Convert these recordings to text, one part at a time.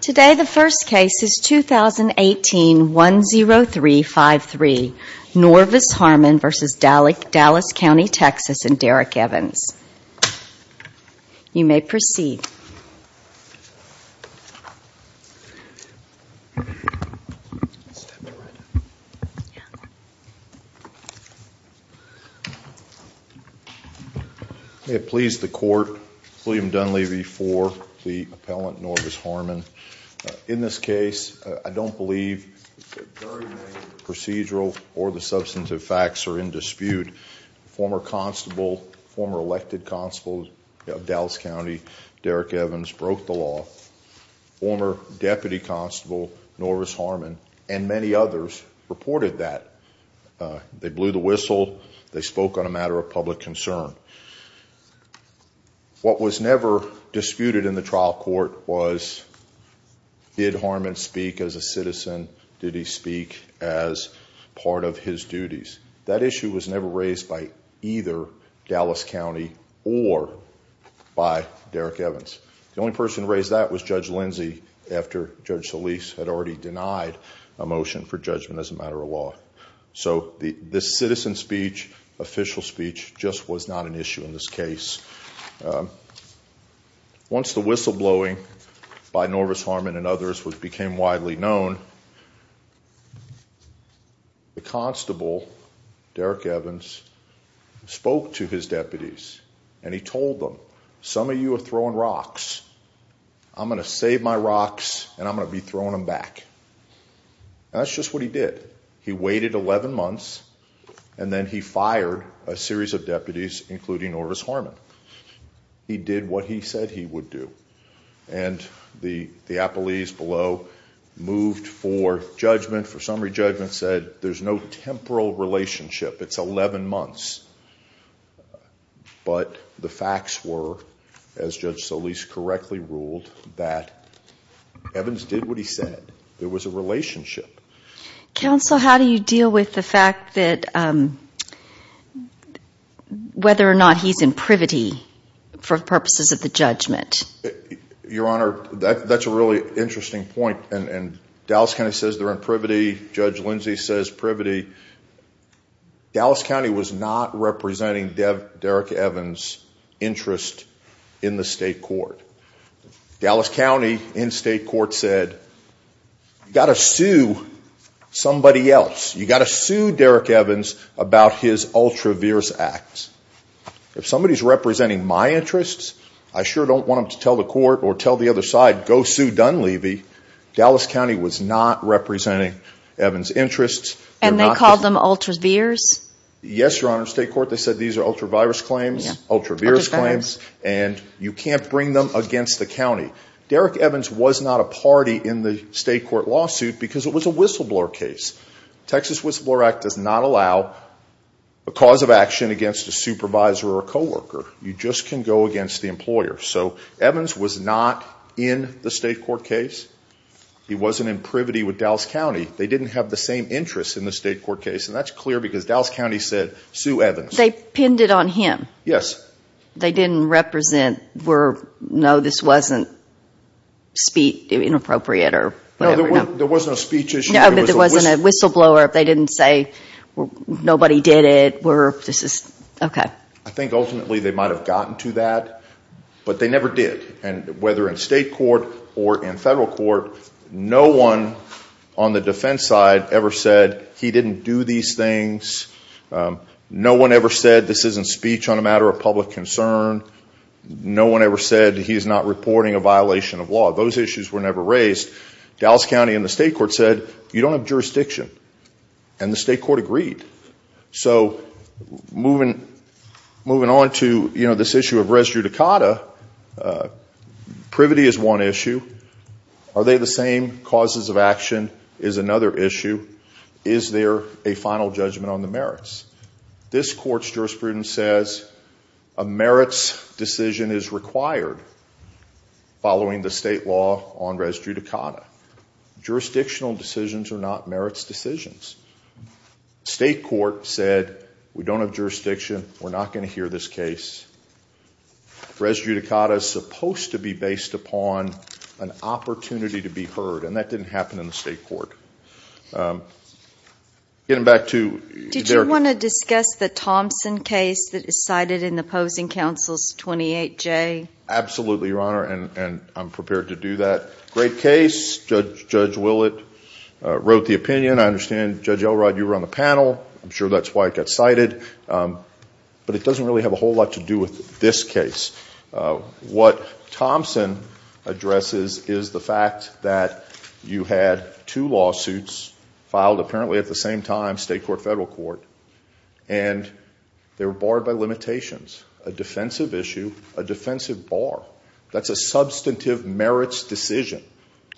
Today, the first case is 2018-10353, Norvis Harmon v. Dallas County, Texas and Derek Evans. You may proceed. May it please the court, William Dunleavy for the appellant Norvis Harmon. In this case, I don't believe procedural or the substantive facts are in dispute. Former constable, former elected constable of Dallas County, Derek Evans broke the law. Former deputy constable Norvis Harmon and many others reported that. They blew the whistle. They spoke on a matter of public concern. What was never disputed in the trial court was did Harmon speak as a citizen? Did he speak as part of his duties? That issue was never raised by either Dallas County or by Derek Evans. The only person raised that was Judge Lindsey after Judge Solis had already denied a motion for judgment as a matter of law. So the citizen speech, official speech, just was not an issue in this case. Once the the constable, Derek Evans, spoke to his deputies and he told them, some of you are throwing rocks. I'm gonna save my rocks and I'm gonna be throwing them back. That's just what he did. He waited 11 months and then he fired a series of deputies including Norvis Harmon. He did what he said he would do and the summary judgment said there's no temporal relationship. It's 11 months but the facts were, as Judge Solis correctly ruled, that Evans did what he said. There was a relationship. Counsel, how do you deal with the fact that whether or not he's in privity for purposes of the judgment? Your Honor, that's a really interesting point and Dallas County says they're in privity. Judge Lindsey says privity. Dallas County was not representing Derek Evans' interest in the state court. Dallas County in state court said, you got to sue somebody else. You got to sue Derek Evans about his ultra-virus act. If somebody's representing my interests, I sure don't want them to tell the court or tell the other side, go sue Dunleavy. Dallas County was not representing Evans' interests. And they called them ultra-virs? Yes, Your Honor. State court, they said these are ultra-virus claims, ultra-virus claims and you can't bring them against the county. Derek Evans was not a party in the state court lawsuit because it was a whistleblower case. Texas Whistleblower Act does not allow a cause of action against a supervisor or a co-worker. You just can go against the in the state court case. He wasn't in privity with Dallas County. They didn't have the same interests in the state court case and that's clear because Dallas County said sue Evans. They pinned it on him? Yes. They didn't represent, were, no, this wasn't speech inappropriate or? No, there was no speech issue. No, but there wasn't a whistleblower, if they didn't say nobody did it, were, this is, okay. I think ultimately they might have gotten to that, but they never did. And whether in state court or in federal court, no one on the defense side ever said he didn't do these things. No one ever said this isn't speech on a matter of public concern. No one ever said he's not reporting a violation of law. Those issues were never raised. Dallas County in the state court said you don't have jurisdiction and the state court agreed. So moving on to, you know, this is one issue. Are they the same causes of action is another issue. Is there a final judgment on the merits? This court's jurisprudence says a merits decision is required following the state law on res judicata. Jurisdictional decisions are not merits decisions. State court said we don't have jurisdiction, we're not going to hear this case. Res judicata is supposed to be based upon an opportunity to be heard, and that didn't happen in the state court. Getting back to... Did you want to discuss the Thompson case that is cited in the opposing counsel's 28J? Absolutely, Your Honor, and I'm prepared to do that. Great case. Judge Willett wrote the opinion. I understand, Judge Elrod, you were on the panel. I'm sure that's why it got cited. But it doesn't really have a whole lot to do with this case. What Thompson addresses is the fact that you had two lawsuits filed apparently at the same time, state court, federal court, and they were barred by limitations. A defensive issue, a defensive bar. That's a substantive merits decision.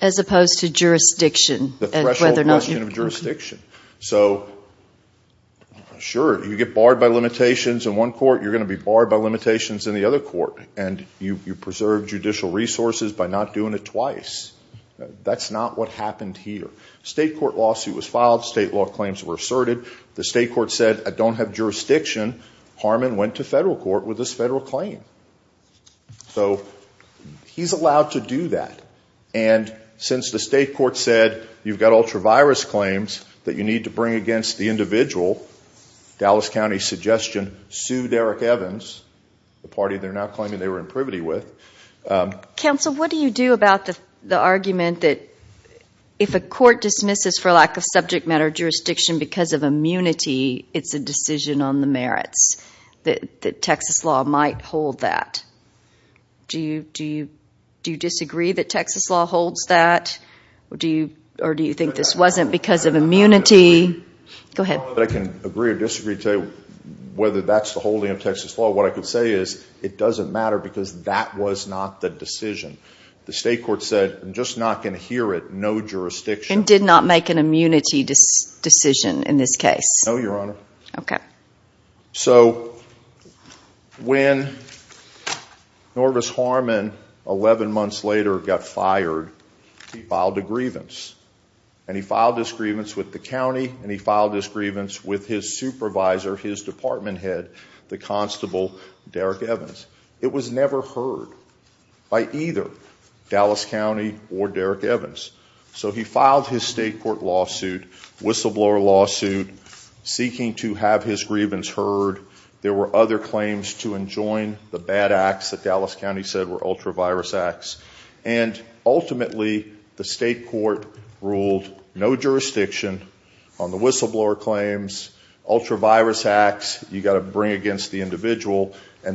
As opposed to jurisdiction and whether or not... The threshold question of jurisdiction. So, sure, you get barred by limitations in the other court, and you preserve judicial resources by not doing it twice. That's not what happened here. State court lawsuit was filed. State law claims were asserted. The state court said, I don't have jurisdiction. Harmon went to federal court with this federal claim. So, he's allowed to do that. And since the state court said, you've got ultra-virus claims that you need to the party they're now claiming they were in privity with... Counsel, what do you do about the argument that if a court dismisses for lack of subject matter jurisdiction because of immunity, it's a decision on the merits, that Texas law might hold that? Do you disagree that Texas law holds that? Or do you think this wasn't because of immunity? Go ahead. I don't know that I can agree or disagree to tell you whether that's the case. What I can say is, it doesn't matter because that was not the decision. The state court said, I'm just not going to hear it. No jurisdiction. And did not make an immunity decision in this case? No, Your Honor. So, when Norvis Harmon, 11 months later, got fired, he filed a grievance. And he filed this grievance with the county, and he filed this grievance with his It was never heard by either Dallas County or Derek Evans. So he filed his state court lawsuit, whistleblower lawsuit, seeking to have his grievance heard. There were other claims to enjoin the bad acts that Dallas County said were ultra-virus acts. And ultimately, the state court ruled no jurisdiction on the whistleblower claims, ultra-virus acts, you've got to bring against the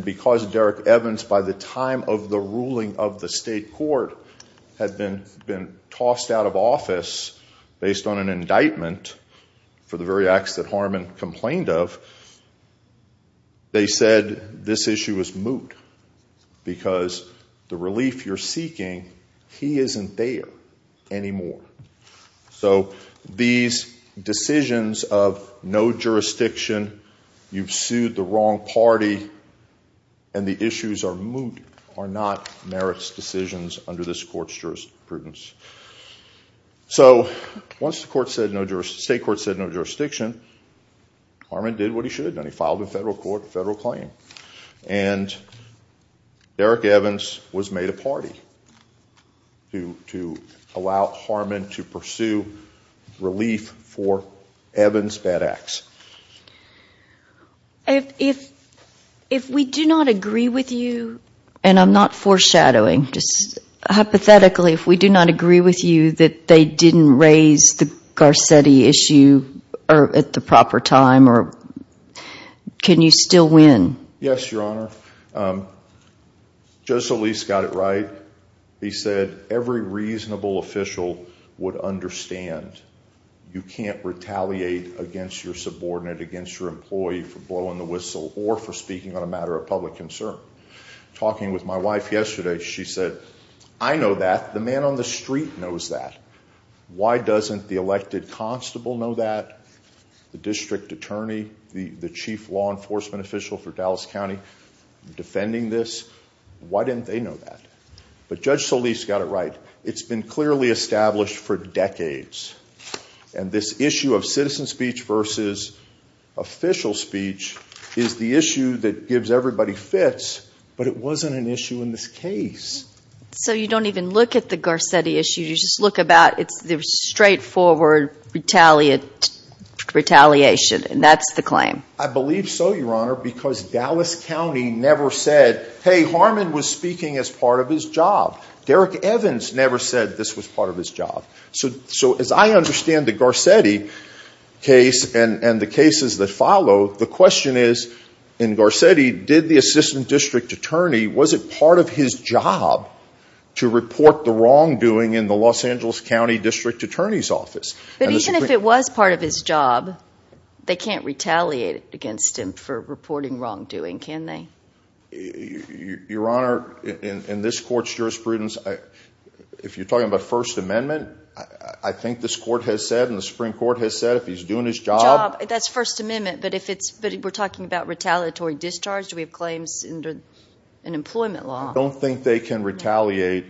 Because Derek Evans, by the time of the ruling of the state court, had been tossed out of office based on an indictment for the very acts that Harmon complained of, they said this issue is moot because the relief you're seeking, he isn't there anymore. So, these decisions of no jurisdiction, you've sued the wrong party, and the issues are moot, are not merits decisions under this court's jurisprudence. So, once the state court said no jurisdiction, Harmon did what he should have done. He filed a federal court, a federal claim. And Derek Evans was made a party to allow Harmon to pursue relief for Evans' bad acts. If we do not agree with you, and I'm not foreshadowing, just hypothetically, if we do not agree with you that they didn't raise the Garcetti issue at the proper time, can you still win? Yes, Your Honor. Judge Solis got it against your subordinate, against your employee for blowing the whistle or for speaking on a matter of public concern. Talking with my wife yesterday, she said, I know that. The man on the street knows that. Why doesn't the elected constable know that? The district attorney, the chief law enforcement official for Dallas County, defending this. Why didn't they know that? But Judge Solis got it right. It's been clearly established for decades. And this issue of citizen speech versus official speech is the issue that gives everybody fits, but it wasn't an issue in this case. So you don't even look at the Garcetti issue, you just look about, it's the straightforward retaliation, and that's the claim. I believe so, Your Honor, because Dallas County never said, hey, Harman was speaking as part of his job. Derek Evans never said this was part of his job. So as I understand the Garcetti case and the cases that follow, the question is, in Garcetti, did the assistant district attorney, was it part of his job to report the wrongdoing in the Los Angeles County district attorney's office? But even if it was part of his job, they can't retaliate against him for that. Your Honor, in this court's jurisprudence, if you're talking about First Amendment, I think this court has said, and the Supreme Court has said, if he's doing his job. That's First Amendment, but if it's, but we're talking about retaliatory discharge, do we have claims under an employment law? I don't think they can retaliate.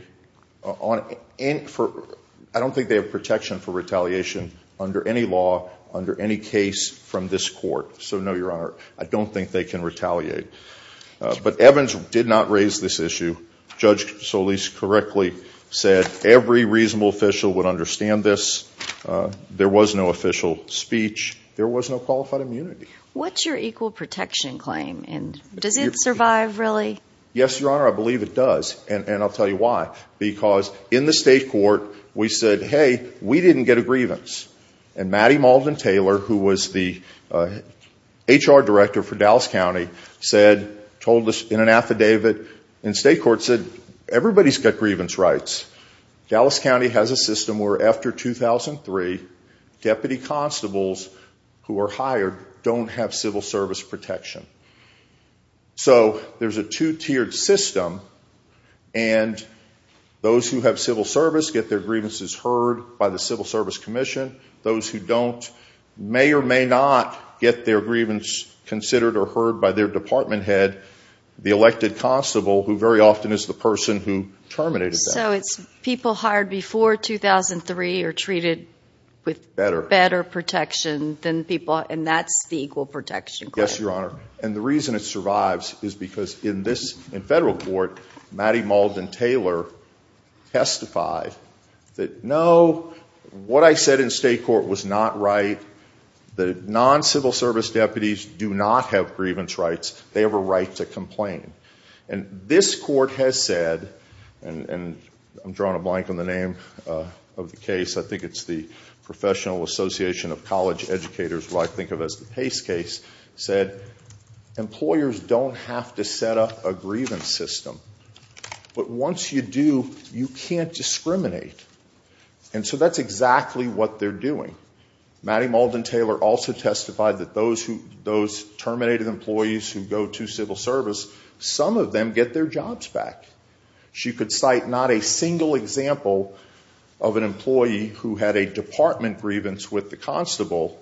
I don't think they have protection for retaliation under any law, under any case from this court. So no, Your Honor, I raised this issue. Judge Solis correctly said every reasonable official would understand this. There was no official speech. There was no qualified immunity. What's your equal protection claim, and does it survive, really? Yes, Your Honor, I believe it does, and I'll tell you why. Because in the state court, we said, hey, we didn't get a grievance. And Maddie Malden-Taylor, who was the HR director for Dallas County, said, told us in an affidavit in state court, said everybody's got grievance rights. Dallas County has a system where after 2003, deputy constables who are hired don't have civil service protection. So there's a two-tiered system, and those who have civil service get their grievances heard by the Civil Service Commission. Those who don't may or may not get their grievances considered or heard by their department head, the elected constable, who very often is the person who terminated that. So it's people hired before 2003 are treated with better protection than people, and that's the equal protection claim. Yes, Your Honor, and the reason it survives is because in this, in federal court, Maddie Malden-Taylor testified that, no, what I said in state court was not right. The non-civil service deputies do not have grievance rights. They have a right to complain. And this court has said, and I'm drawing a blank on the name of the case, I think it's the Professional Association of College Educators, what I think of as the Pace case, said employers don't have to set up a grievance system. But once you do, you can't discriminate. And so that's exactly what they're doing. Maddie Malden-Taylor also testified that those who, those terminated employees who go to civil service, some of them get their jobs back. She could cite not a single example of an employee who had a department grievance with the constable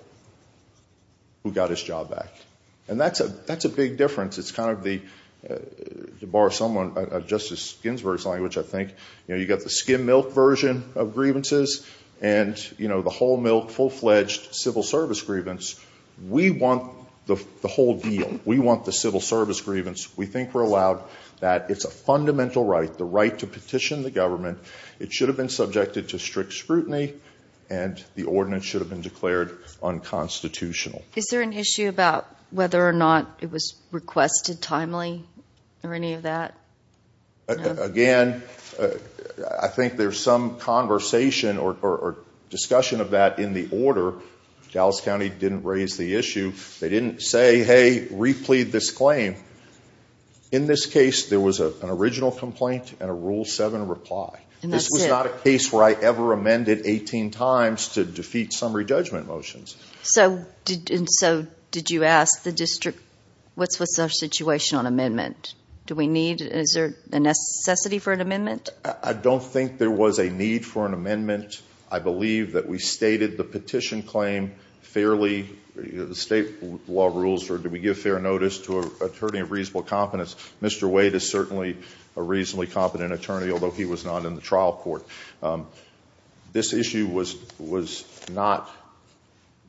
who got his job back. And that's a, that's a big difference. It's kind of the, to borrow someone, Justice Ginsburg's language, I think, you know, you know, the whole milk, full-fledged civil service grievance, we want the whole deal. We want the civil service grievance. We think we're allowed that. It's a fundamental right, the right to petition the government. It should have been subjected to strict scrutiny and the ordinance should have been declared unconstitutional. Is there an issue about whether or not it was requested timely or any of that? Again, I think there's some conversation or discussion of that in the order. Dallas County didn't raise the issue. They didn't say, hey, replead this claim. In this case, there was an original complaint and a Rule 7 reply. And this was not a case where I ever amended 18 times to defeat summary judgment motions. So did, so did you ask the district, what's, what's their situation on amendment? Do we need, is there a necessity for an amendment? I don't think there was a need for an amendment. I believe that we stated the petition claim fairly, the state law rules, or do we give fair notice to an attorney of reasonable competence? Mr. Wade is certainly a reasonably competent attorney, although he was not in the trial court. This issue was, was not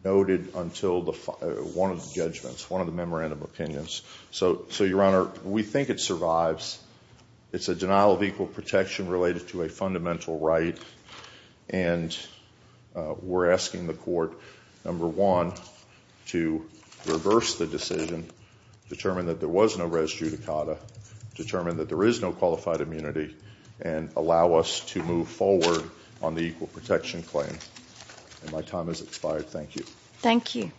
noted until the, one of the judgments, one of the memorandum opinions. So, so your Honor, we think it survives. It's a denial of equal protection related to a fundamental right, and we're asking the court, number one, to reverse the decision, determine that there was no res judicata, determine that there is no qualified immunity, and allow us to move forward on the equal protection claim. And my time has expired. Thank you. Thank you.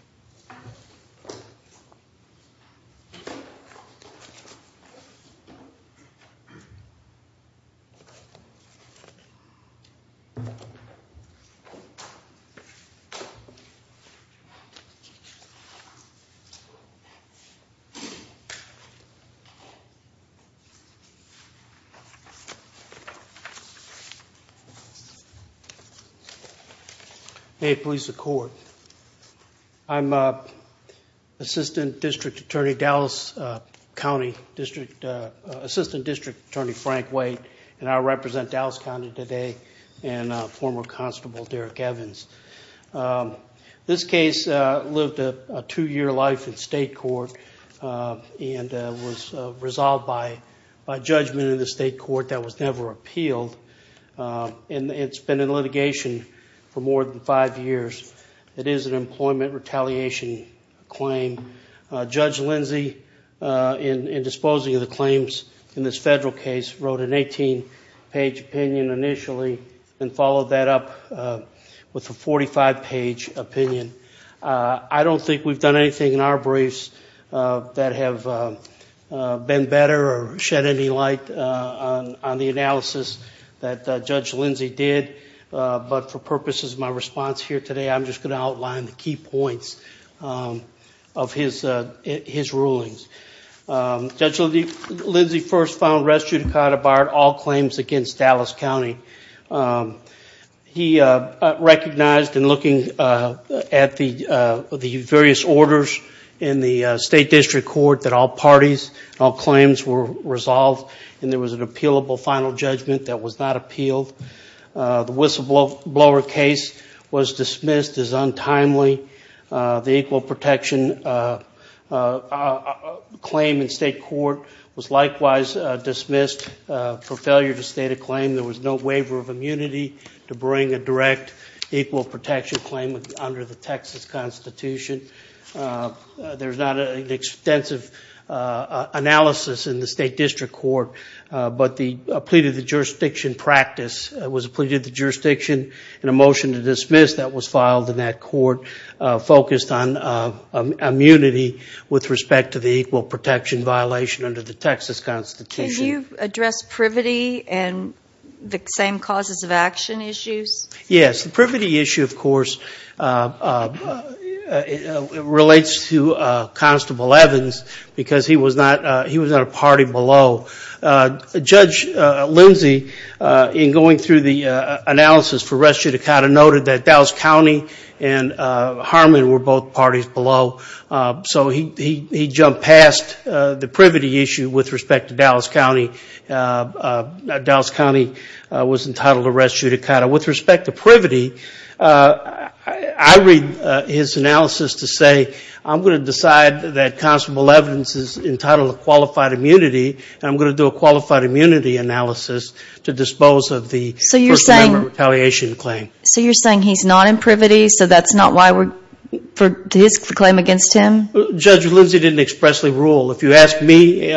May it please the court. I'm Assistant District Attorney Dallas County, District, Assistant District Attorney Frank Wade, and I represent Dallas County today, and former Constable Derek Evans. This case lived a two-year life in state court, and was resolved by, by judgment in the state court that was never appealed, and it's been in litigation for Judge Lindsey, in disposing of the claims in this federal case, wrote an 18-page opinion initially, and followed that up with a 45-page opinion. I don't think we've done anything in our briefs that have been better or shed any light on the analysis that Judge Lindsey did, but for purposes of my response here today, I'm just going to outline the key points of his, his rulings. Judge Lindsey first found res judicata barred all claims against Dallas County. He recognized, in looking at the, the various orders in the state district court, that all parties, all claims were resolved, and there was an appealable final judgment that was not appealed. The whistleblower case was dismissed as untimely. The equal protection claim in state court was likewise dismissed for failure to state a claim. There was no waiver of immunity to bring a direct equal protection claim under the Texas Constitution. There's not an extensive analysis in the state district court, but the plea to the jurisdiction practice was a plea to the jurisdiction, and a motion to dismiss that was filed in that court, focused on immunity with respect to the equal protection violation under the Texas Constitution. Can you address privity and the same causes of action issues? Yes, the privity issue, of course, relates to Constable Evans, because he was not, he was below. Judge Lindsey, in going through the analysis for res judicata, noted that Dallas County and Harmon were both parties below, so he jumped past the privity issue with respect to Dallas County. Dallas County was entitled to res judicata. With respect to privity, I read his analysis to say, I'm going to decide that Constable Evans is entitled to qualified immunity, and I'm going to do a qualified immunity analysis to dispose of the first amendment retaliation claim. So you're saying he's not in privity, so that's not why we're, for his claim against him? Judge Lindsey didn't expressly rule. If you ask me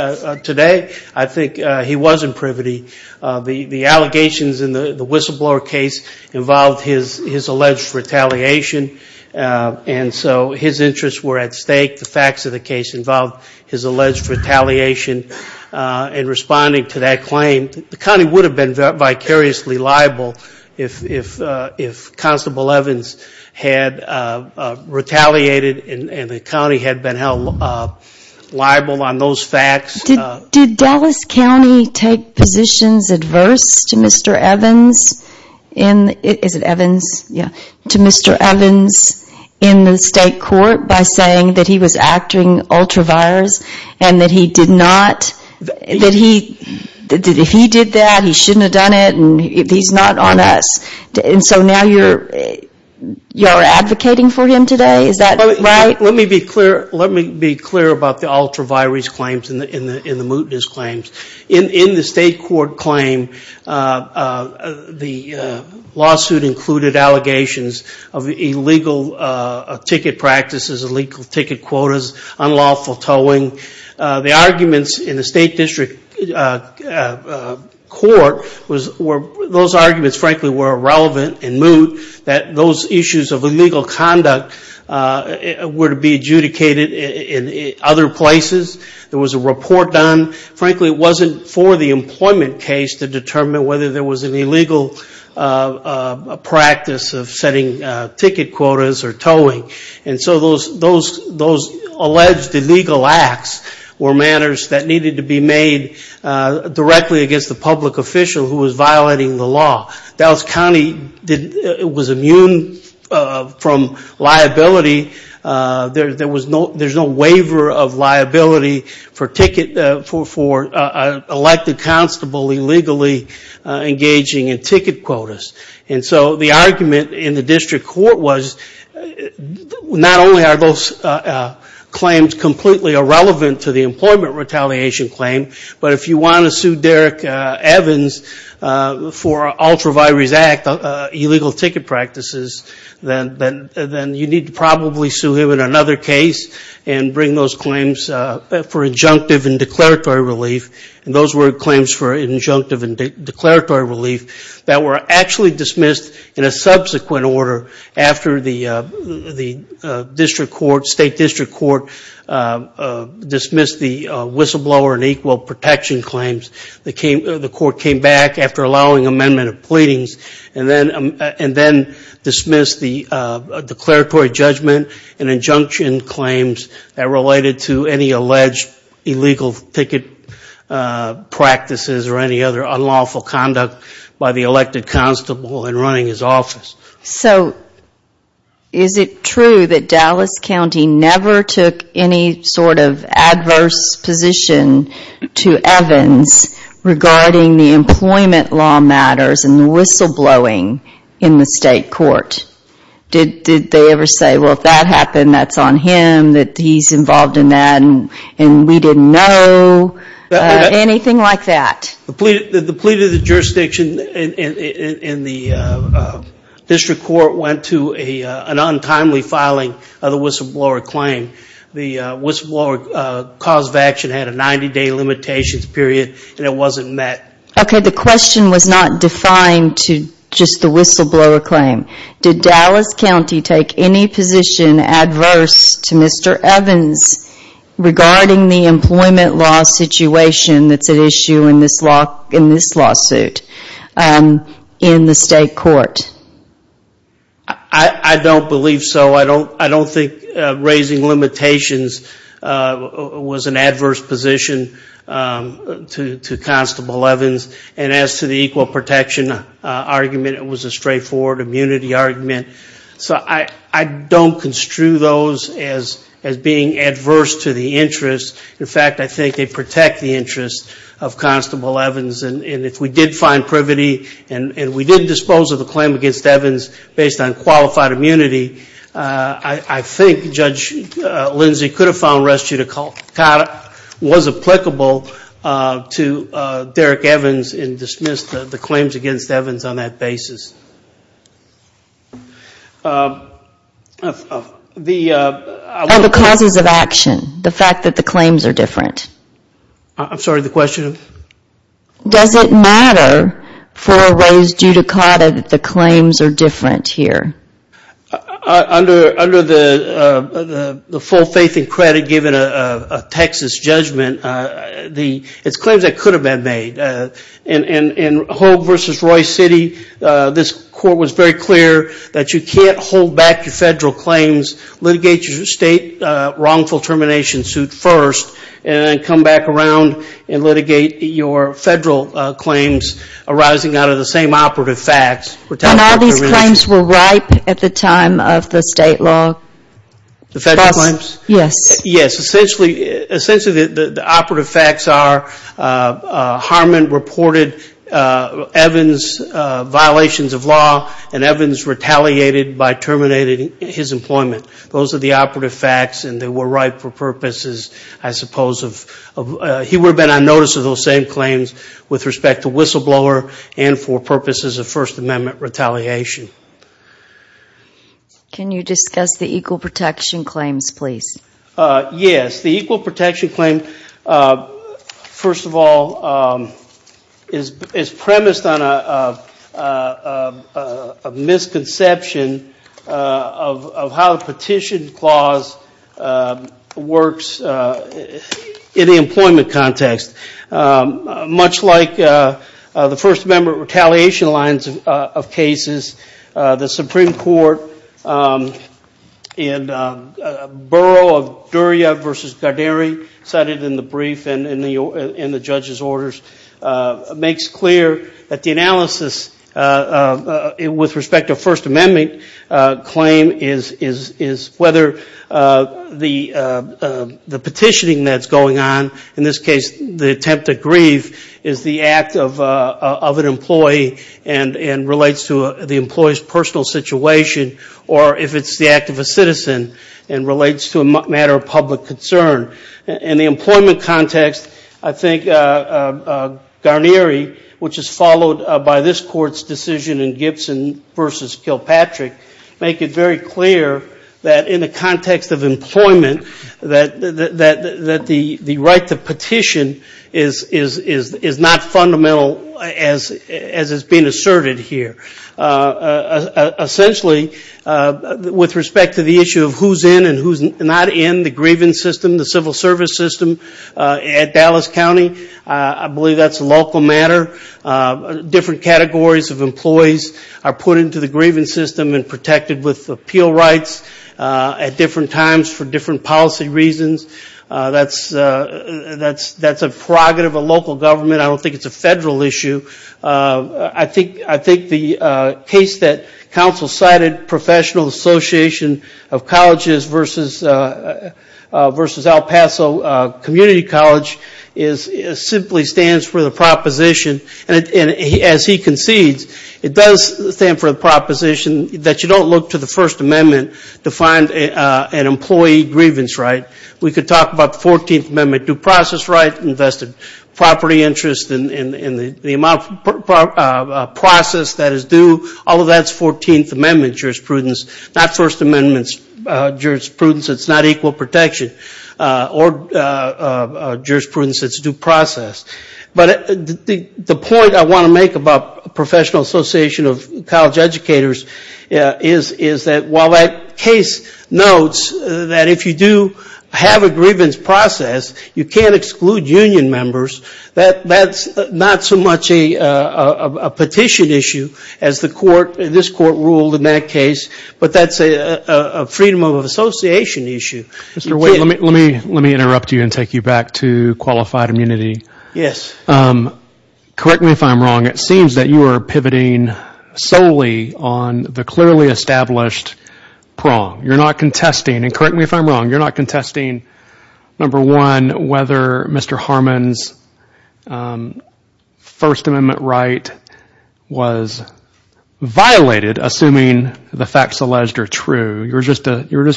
today, I think he was in privity. The allegations in the whistleblower case involved his alleged retaliation, and so his interests were at stake. The facts of the case involved his alleged retaliation, and responding to that claim, the county would have been vicariously liable if Constable Evans had retaliated and the county had been held liable on those facts. Did Dallas County take positions adverse to Mr. Evans in, is it Evans? Yeah, to Mr. Evans in the state court by saying that he was acting ultra-virus, and that he did not, that he, that if he did that, he shouldn't have done it, and he's not on us. And so now you're advocating for him today? Is that right? Let me be clear, let me be clear about the ultra-virus claims and the mootness claims. In the state court claim, the lawsuit included allegations of illegal ticket practices, illegal ticket quotas, unlawful towing. The arguments in the state district court, those arguments frankly were irrelevant and moot, that those issues of illegal conduct were to be adjudicated in other places. There was a report done. Frankly, it wasn't for the employment case to determine whether there was an illegal practice of setting ticket quotas or towing. And so those alleged illegal acts were matters that needed to be made directly against the public official who was violating the law. Dallas County was immune from liability. There was no, there's no waiver of liability for ticket, for an elected constable illegally engaging in ticket quotas. And so the argument in the district court was not only are those claims completely irrelevant to the employment retaliation claim, but if you want to sue Derrick Evans for ultra-virus act, illegal ticket practices, then you need to probably sue him in another case and bring those claims for injunctive and declaratory relief. And those were claims for injunctive and declaratory relief that were actually dismissed in a subsequent order by the state court. After the district court, state district court dismissed the whistleblower and equal protection claims, the court came back after allowing amendment of pleadings and then dismissed the declaratory judgment and injunction claims that related to any alleged illegal ticket practices or any other unlawful conduct by the elected constable in running his office. So, is it true that Dallas County never took any sort of adverse position to Evans regarding the employment law matters and the whistleblowing in the state court? Did they ever say, well if that happened, that's on him, that he's involved in that and we didn't know? Anything like that? The plea to the jurisdiction in the district court went to an untimely filing of the whistleblower claim. The whistleblower cause of action had a 90 day limitations period and it wasn't met. Okay, the question was not defined to just the whistleblower claim. Did Dallas County take any position adverse to Mr. Evans regarding the employment law situation that's at issue in this lawsuit in the state court? I don't believe so. I don't think raising limitations was an adverse position to Constable Evans. And as to the equal protection argument, it was a straightforward immunity argument. So, I don't construe those as being adverse to the interest. In fact, I think they protect the interest of Constable Evans. And if we did find privity and we did dispose of the claim against Evans based on qualified immunity, I think Judge Lindsey could have found restitute of conduct was applicable to Derrick Evans and dismissed the claims against Evans on that basis. And the causes of action? The fact that the claims are different? I'm sorry, the question? Does it matter for Rose Giudicata that the claims are different here? Under the full faith and credit given a Texas judgment, it's claims that could have been made. In Hogue v. Royce City, this court was very clear that you can't hold back your federal claims, litigate your state wrongful termination suit first, and then come back around and litigate your federal claims arising out of the same operative facts. And all these claims were ripe at the time of the state law? The federal claims? Yes. Yes. Essentially, the operative facts are Harmon reported Evans violations of law and Evans retaliated by terminating his employment. Those are the operative facts and they were ripe for purposes, I suppose. He would have been on notice of those same claims with respect to whistleblower and for purposes of First Amendment retaliation. Can you discuss the equal protection claims, please? Yes. The equal protection claim, first of all, is premised on a misconception of how the petition clause works in the employment context. Much like the First Amendment retaliation lines of cases, the Supreme Court in Borough of Durya v. Garderi, cited in the brief and in the judge's orders, makes clear that the analysis with respect to First Amendment claim is whether the petitioning that's going on, in this case the attempt to grieve, is the act of an employee and relates to the employee's personal situation, or if it's the act of a citizen and relates to a matter of public concern. In the employment context, I think Garderi, which is followed by this Court's decision in Gibson v. Kilpatrick, make it very clear that in the context of employment, that the right to petition is not fundamental as is being asserted here. Essentially, with respect to the issue of who's in and who's not in the grievance system, the civil service system at Dallas County, I believe that's a local matter. Different categories of employees are put into the grievance system and protected with appeal rights at different times for different policy reasons. That's a prerogative of local government. I don't think it's a federal issue. I think the case that counsel cited, Professional Association of Colleges v. El Paso Community College, simply stands for the proposition, and as he concedes, it does stand for the proposition that you don't look to the First Amendment to find an employee grievance right. We could talk about the 14th Amendment due process right, invested property interest, and the amount of process that is due. Although that's 14th Amendment jurisprudence, not First Amendment jurisprudence. It's not equal protection or jurisprudence. It's due process. But the point I want to make about Professional Association of College Educators is that while that case notes that if you do have a grievance process, you can't exclude union members, that's not so much a petition issue as this court ruled in that case, but that's a freedom of association issue. Let me interrupt you and take you back to qualified immunity. Yes. Correct me if I'm wrong, it seems that you are pivoting solely on the clearly established prong. You're not contesting, and correct me if I'm wrong, you're not contesting, number one, whether Mr. Harmon's First Amendment right was violated, assuming the facts alleged are true. You're just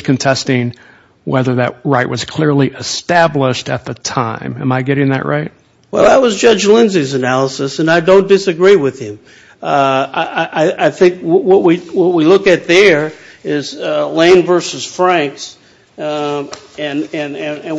contesting whether that right was clearly established at the time. Am I getting that right? Well, that was Judge Lindsay's analysis, and I don't disagree with him. I think what we look at there is Lane versus Franks, and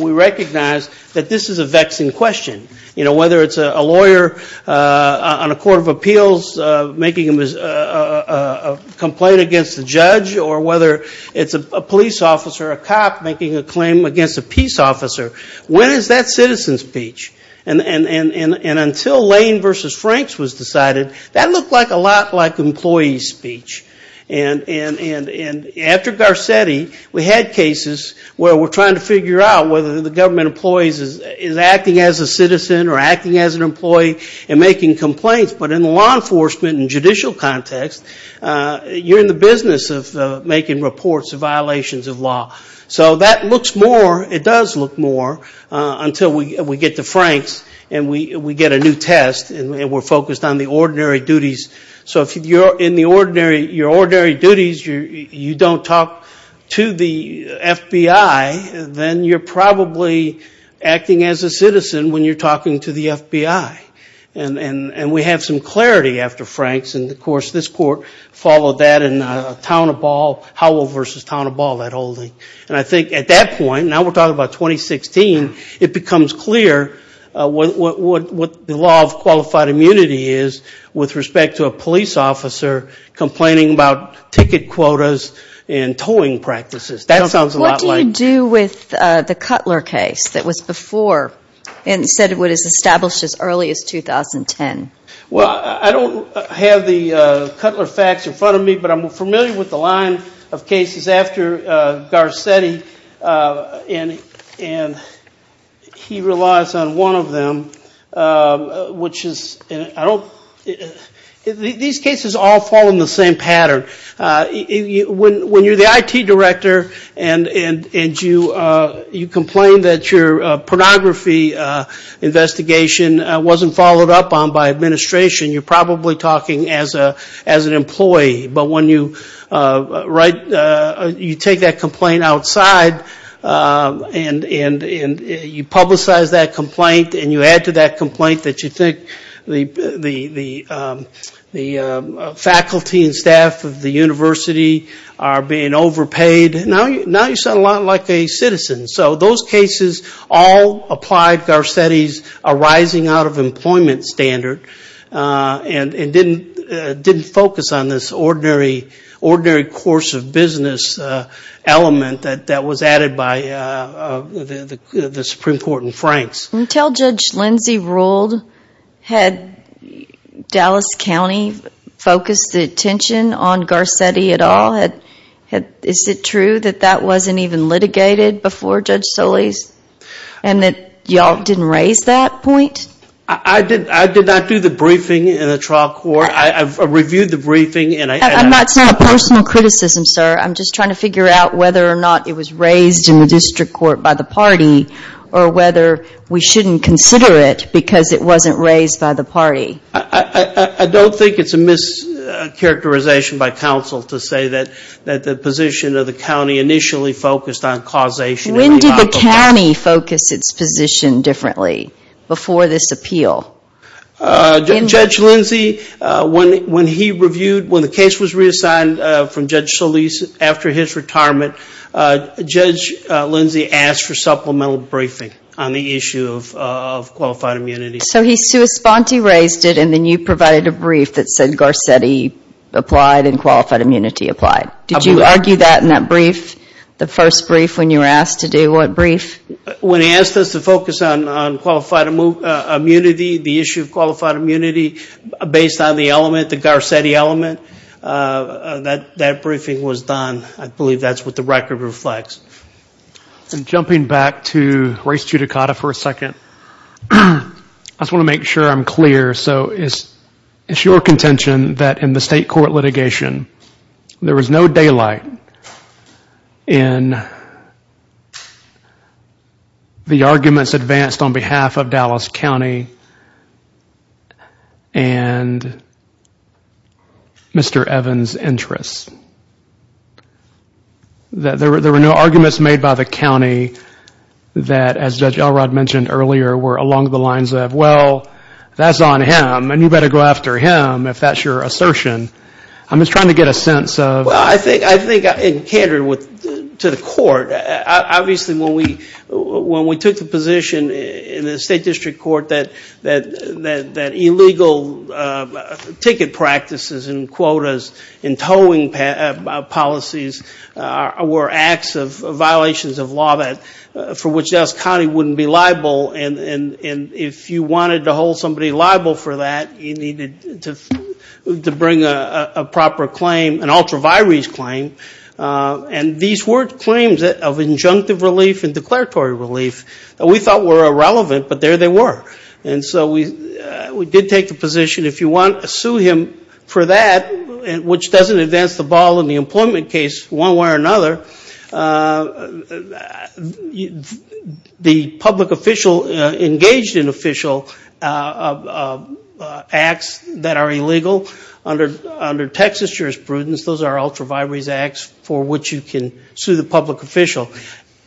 we recognize that this is a vexing question. Whether it's a lawyer on a court of appeals making a complaint against a judge, or whether it's a police officer, a cop, making a claim against a peace officer, when is that citizen speech? And until Lane versus Franks was decided, that looked a lot like employee speech. And after Garcetti, we had cases where we're trying to figure out whether the government employee is acting as a citizen or acting as an employee and making complaints. But in the law enforcement and judicial context, you're in the business of making reports of violations of law. So that looks more, it does look more, until we get to Franks and we get a new test and we're focused on the ordinary duties. So if you're in the ordinary, your ordinary duties, you don't talk to the FBI, then you're probably acting as a citizen when you're talking to the FBI. And we have some clarity after Franks, and, of course, this court followed that in Town of Ball, Howell versus Town of Ball, that holding. And I think at that point, now we're talking about 2016, it becomes clear what the law of qualified immunity is with respect to a police officer complaining about ticket quotas and towing practices. That sounds a lot like the... What do you do with the Cutler case that was before, instead of what is established as early as 2010? Well, I don't have the Cutler facts in front of me, but I'm familiar with the line of cases after Garcetti. And he relies on one of them, which is, I don't, these cases all fall in the same pattern. When you're the IT director and you complain that your pornography investigation wasn't followed up on by administration, you're probably talking as an employee. But when you take that complaint outside and you publicize that complaint and you add to that complaint that you think the faculty and staff of the university are being overpaid, now you sound a lot like a citizen. So those cases all applied Garcetti's arising out of employment standard and didn't focus on this ordinary course of business element that was added by the Supreme Court in Franks. Until Judge Lindsey ruled, had Dallas County focused attention on Garcetti at all? Is it true that that wasn't even litigated before Judge Solis? And that y'all didn't raise that point? I did not do the briefing in the trial court. I reviewed the briefing and I... That's not a personal criticism, sir. I'm just trying to figure out whether or not it was raised in the district court by the party or whether we shouldn't consider it because it wasn't raised by the party. I don't think it's a mischaracterization by counsel to say that the position of the county initially focused on causation. When did the county focus its position differently before this appeal? Judge Lindsey, when he reviewed, when the case was reassigned from Judge Solis after his retirement, Judge Lindsey asked for supplemental briefing on the issue of qualified immunity. So he sui sponte raised it and then you provided a brief that said Garcetti applied and qualified immunity applied. Did you argue that in that brief, the first brief when you were asked to do what brief? When he asked us to focus on qualified immunity, the issue of qualified immunity based on the element, the Garcetti element, that briefing was done. I believe that's what the record reflects. And jumping back to race judicata for a second, I just want to make sure I'm clear. So it's your contention that in the state court litigation, there was no daylight in the arguments advanced on behalf of Dallas County and Mr. Evans' interests. There were no arguments made by the county that, as Judge Elrod mentioned earlier, were along the lines of, well, that's on him and you better go after him, if that's your assertion. I'm just trying to get a sense of... Well, I think in candor to the court, obviously when we took the position in the state district court that illegal ticket practices and quotas and towing policies were acts of violations of law for which Dallas County wouldn't be liable. And if you wanted to hold somebody liable for that, you needed to bring a proper claim, an ultra vires claim. And these were claims of injunctive relief and declaratory relief that we thought were irrelevant, but there they were. And so we did take the position, if you want to sue him for that, which doesn't advance the ball in the employment case one way or another, the public official engaged in official acts that are illegal under Texas jurisprudence, those are ultra vires acts for which you can sue the public official.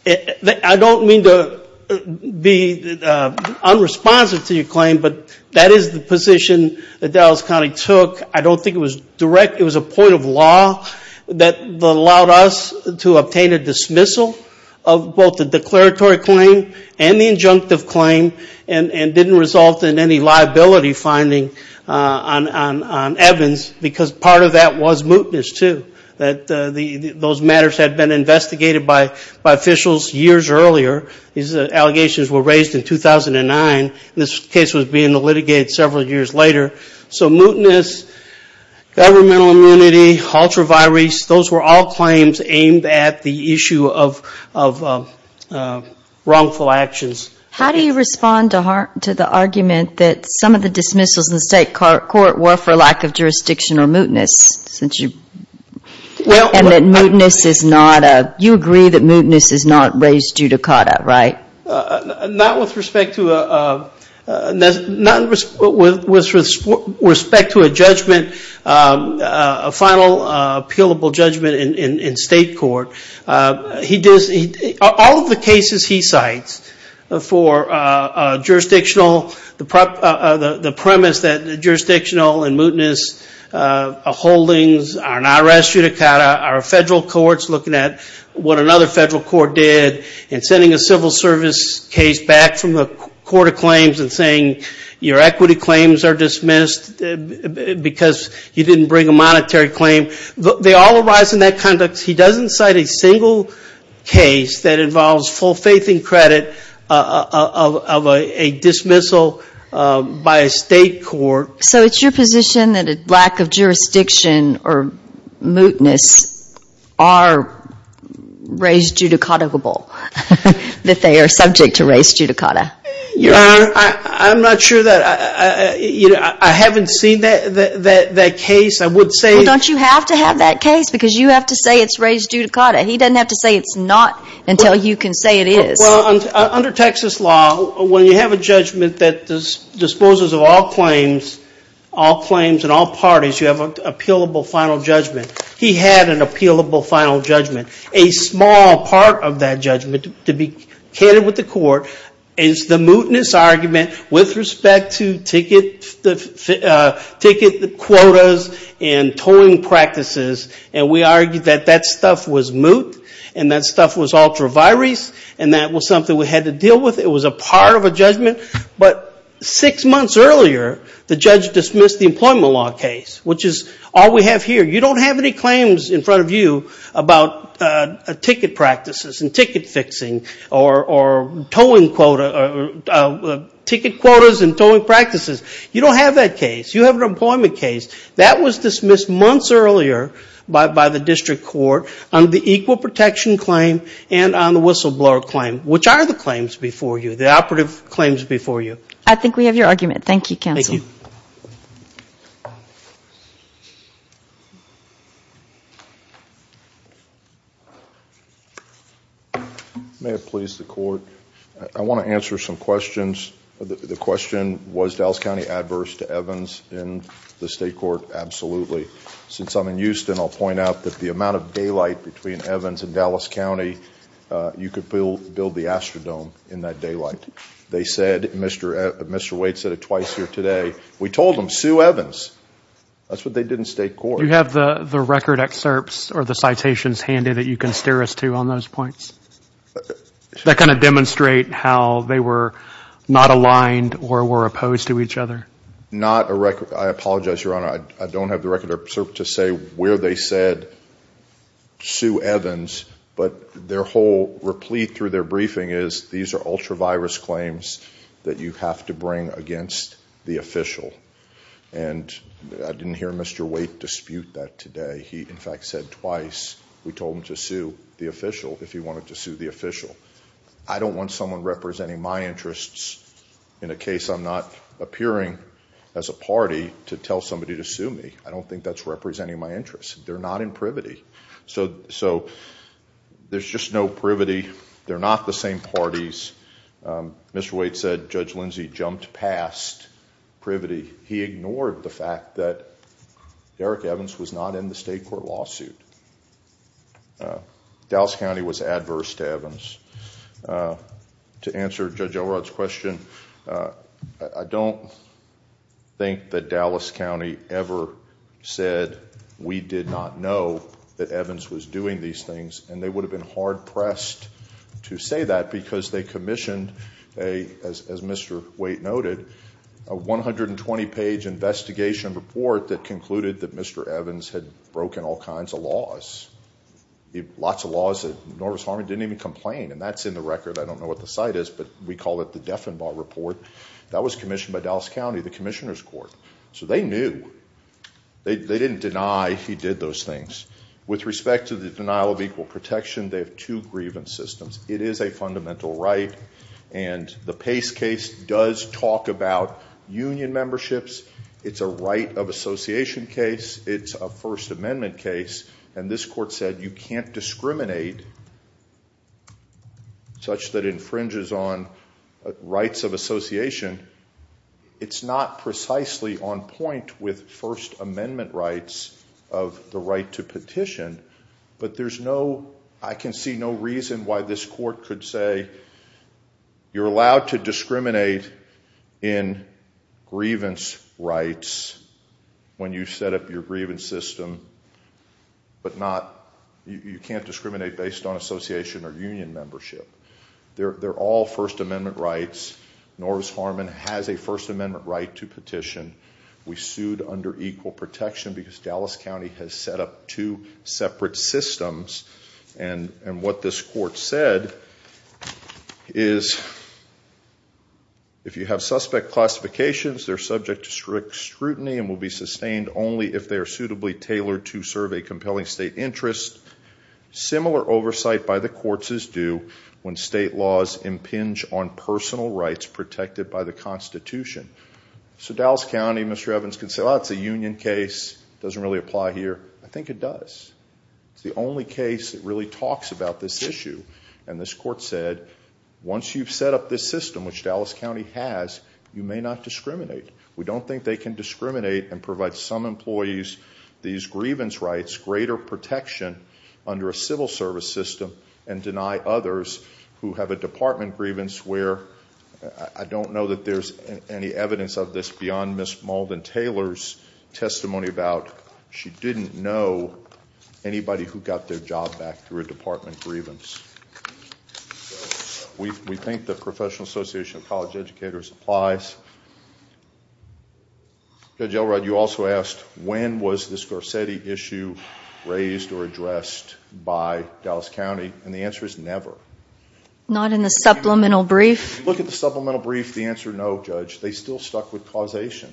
I don't mean to be unresponsive to your claim, but that is the position that Dallas County took. I don't think it was direct, it was a point of law that allowed us to obtain a dismissal of both the declaratory claim and the injunctive claim and didn't result in any liability finding on Evans because part of that was mootness too. Those matters had been investigated by officials years earlier. These allegations were raised in 2009. This case was being litigated several years later. So mootness, governmental immunity, ultra vires, those were all claims aimed at the issue of wrongful actions. How do you respond to the argument that some of the dismissals in the state court were for lack of jurisdiction or mootness? And that mootness is not, you agree that mootness is not raised judicata, right? Not with respect to a judgment, a final appealable judgment in state court. All of the cases he cites for jurisdictional, the premise that jurisdictional and mootness holdings are not raised judicata, our federal courts looking at what another federal court did and sending a civil service case back from the court of claims and saying your equity claims are dismissed because you didn't bring a monetary claim, they all arise in that context. He doesn't cite a single case that involves full faith and credit of a dismissal by a state court. So it's your position that a lack of jurisdiction or mootness are raised judicata-able, that they are subject to raised judicata? Your Honor, I'm not sure that, you know, I haven't seen that case. I would say – Well, don't you have to have that case because you have to say it's raised judicata. He doesn't have to say it's not until you can say it is. Well, under Texas law, when you have a judgment that disposes of all claims, all claims and all parties, you have an appealable final judgment. He had an appealable final judgment. A small part of that judgment, to be candid with the court, is the mootness argument with respect to ticket quotas and tolling practices. And we argued that that stuff was moot, and that stuff was ultra-virus, and that was something we had to deal with. It was a part of a judgment. But six months earlier, the judge dismissed the employment law case, which is all we have here. You don't have any claims in front of you about ticket practices and ticket fixing or towing quota – ticket quotas and towing practices. You don't have that case. You have an employment case. That was dismissed months earlier by the district court on the equal protection claim and on the whistleblower claim, which are the claims before you, the operative claims before you. I think we have your argument. Thank you, counsel. Thank you. May it please the court. I want to answer some questions. The question, was Dallas County adverse to Evans in the state court? Absolutely. Since I'm in Houston, I'll point out that the amount of daylight between Evans and Dallas County, you could build the Astrodome in that daylight. They said, Mr. Waite said it twice here today, we told them, sue Evans. That's what they did in state court. Do you have the record excerpts or the citations handy that you can steer us to on those points? That kind of demonstrate how they were not aligned or were opposed to each other? Not a record. I apologize, Your Honor. I don't have the record excerpt to say where they said sue Evans, but their whole replete through their briefing is these are ultra-virus claims that you have to bring against the official. And I didn't hear Mr. Waite dispute that today. He, in fact, said twice. We told him to sue the official if he wanted to sue the official. I don't want someone representing my interests in a case I'm not appearing as a party to tell somebody to sue me. I don't think that's representing my interests. They're not in privity. So there's just no privity. They're not the same parties. Mr. Waite said Judge Lindsey jumped past privity. He ignored the fact that Eric Evans was not in the state court lawsuit. Dallas County was adverse to Evans. To answer Judge Elrod's question, I don't think that Dallas County ever said we did not know that Evans was doing these things, and they would have been hard-pressed to say that because they commissioned, as Mr. Waite noted, a 120-page investigation report that concluded that Mr. Evans had broken all kinds of laws. Lots of laws that Norris Harmon didn't even complain, and that's in the record. I don't know what the site is, but we call it the Defenbaugh Report. That was commissioned by Dallas County, the commissioner's court. So they knew. They didn't deny he did those things. With respect to the denial of equal protection, they have two grievance systems. It is a fundamental right, and the Pace case does talk about union memberships. It's a right of association case. It's a First Amendment case, and this court said you can't discriminate such that it infringes on rights of association. It's not precisely on point with First Amendment rights of the right to petition, but I can see no reason why this court could say you're allowed to discriminate in grievance rights when you set up your grievance system, but you can't discriminate based on association or union membership. They're all First Amendment rights. Norris Harmon has a First Amendment right to petition. We sued under equal protection because Dallas County has set up two separate systems, and what this court said is if you have suspect classifications, they're subject to strict scrutiny and will be sustained only if they are suitably tailored to serve a compelling state interest. Similar oversight by the courts is due when state laws impinge on personal rights protected by the Constitution. So Dallas County, Mr. Evans, can say, well, it's a union case. It doesn't really apply here. I think it does. It's the only case that really talks about this issue, and this court said once you've set up this system, which Dallas County has, you may not discriminate. We don't think they can discriminate and provide some employees these grievance rights, greater protection under a civil service system and deny others who have a department grievance I don't know that there's any evidence of this beyond Ms. Malden-Taylor's testimony about she didn't know anybody who got their job back through a department grievance. We think the Professional Association of College Educators applies. Judge Elrod, you also asked when was this Garcetti issue raised or addressed by Dallas County, and the answer is never. Not in the supplemental brief? If you look at the supplemental brief, the answer is no, Judge. They still stuck with causation.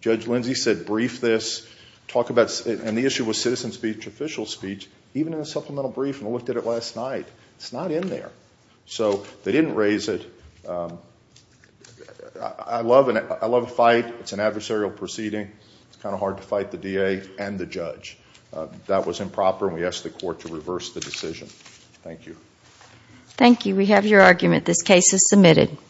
Judge Lindsey said brief this, and the issue with citizen speech, official speech, even in the supplemental brief, and I looked at it last night, it's not in there. So they didn't raise it. I love a fight. It's an adversarial proceeding. It's kind of hard to fight the DA and the judge. That was improper, and we ask the court to reverse the decision. Thank you. Thank you. We have your argument. This case is submitted.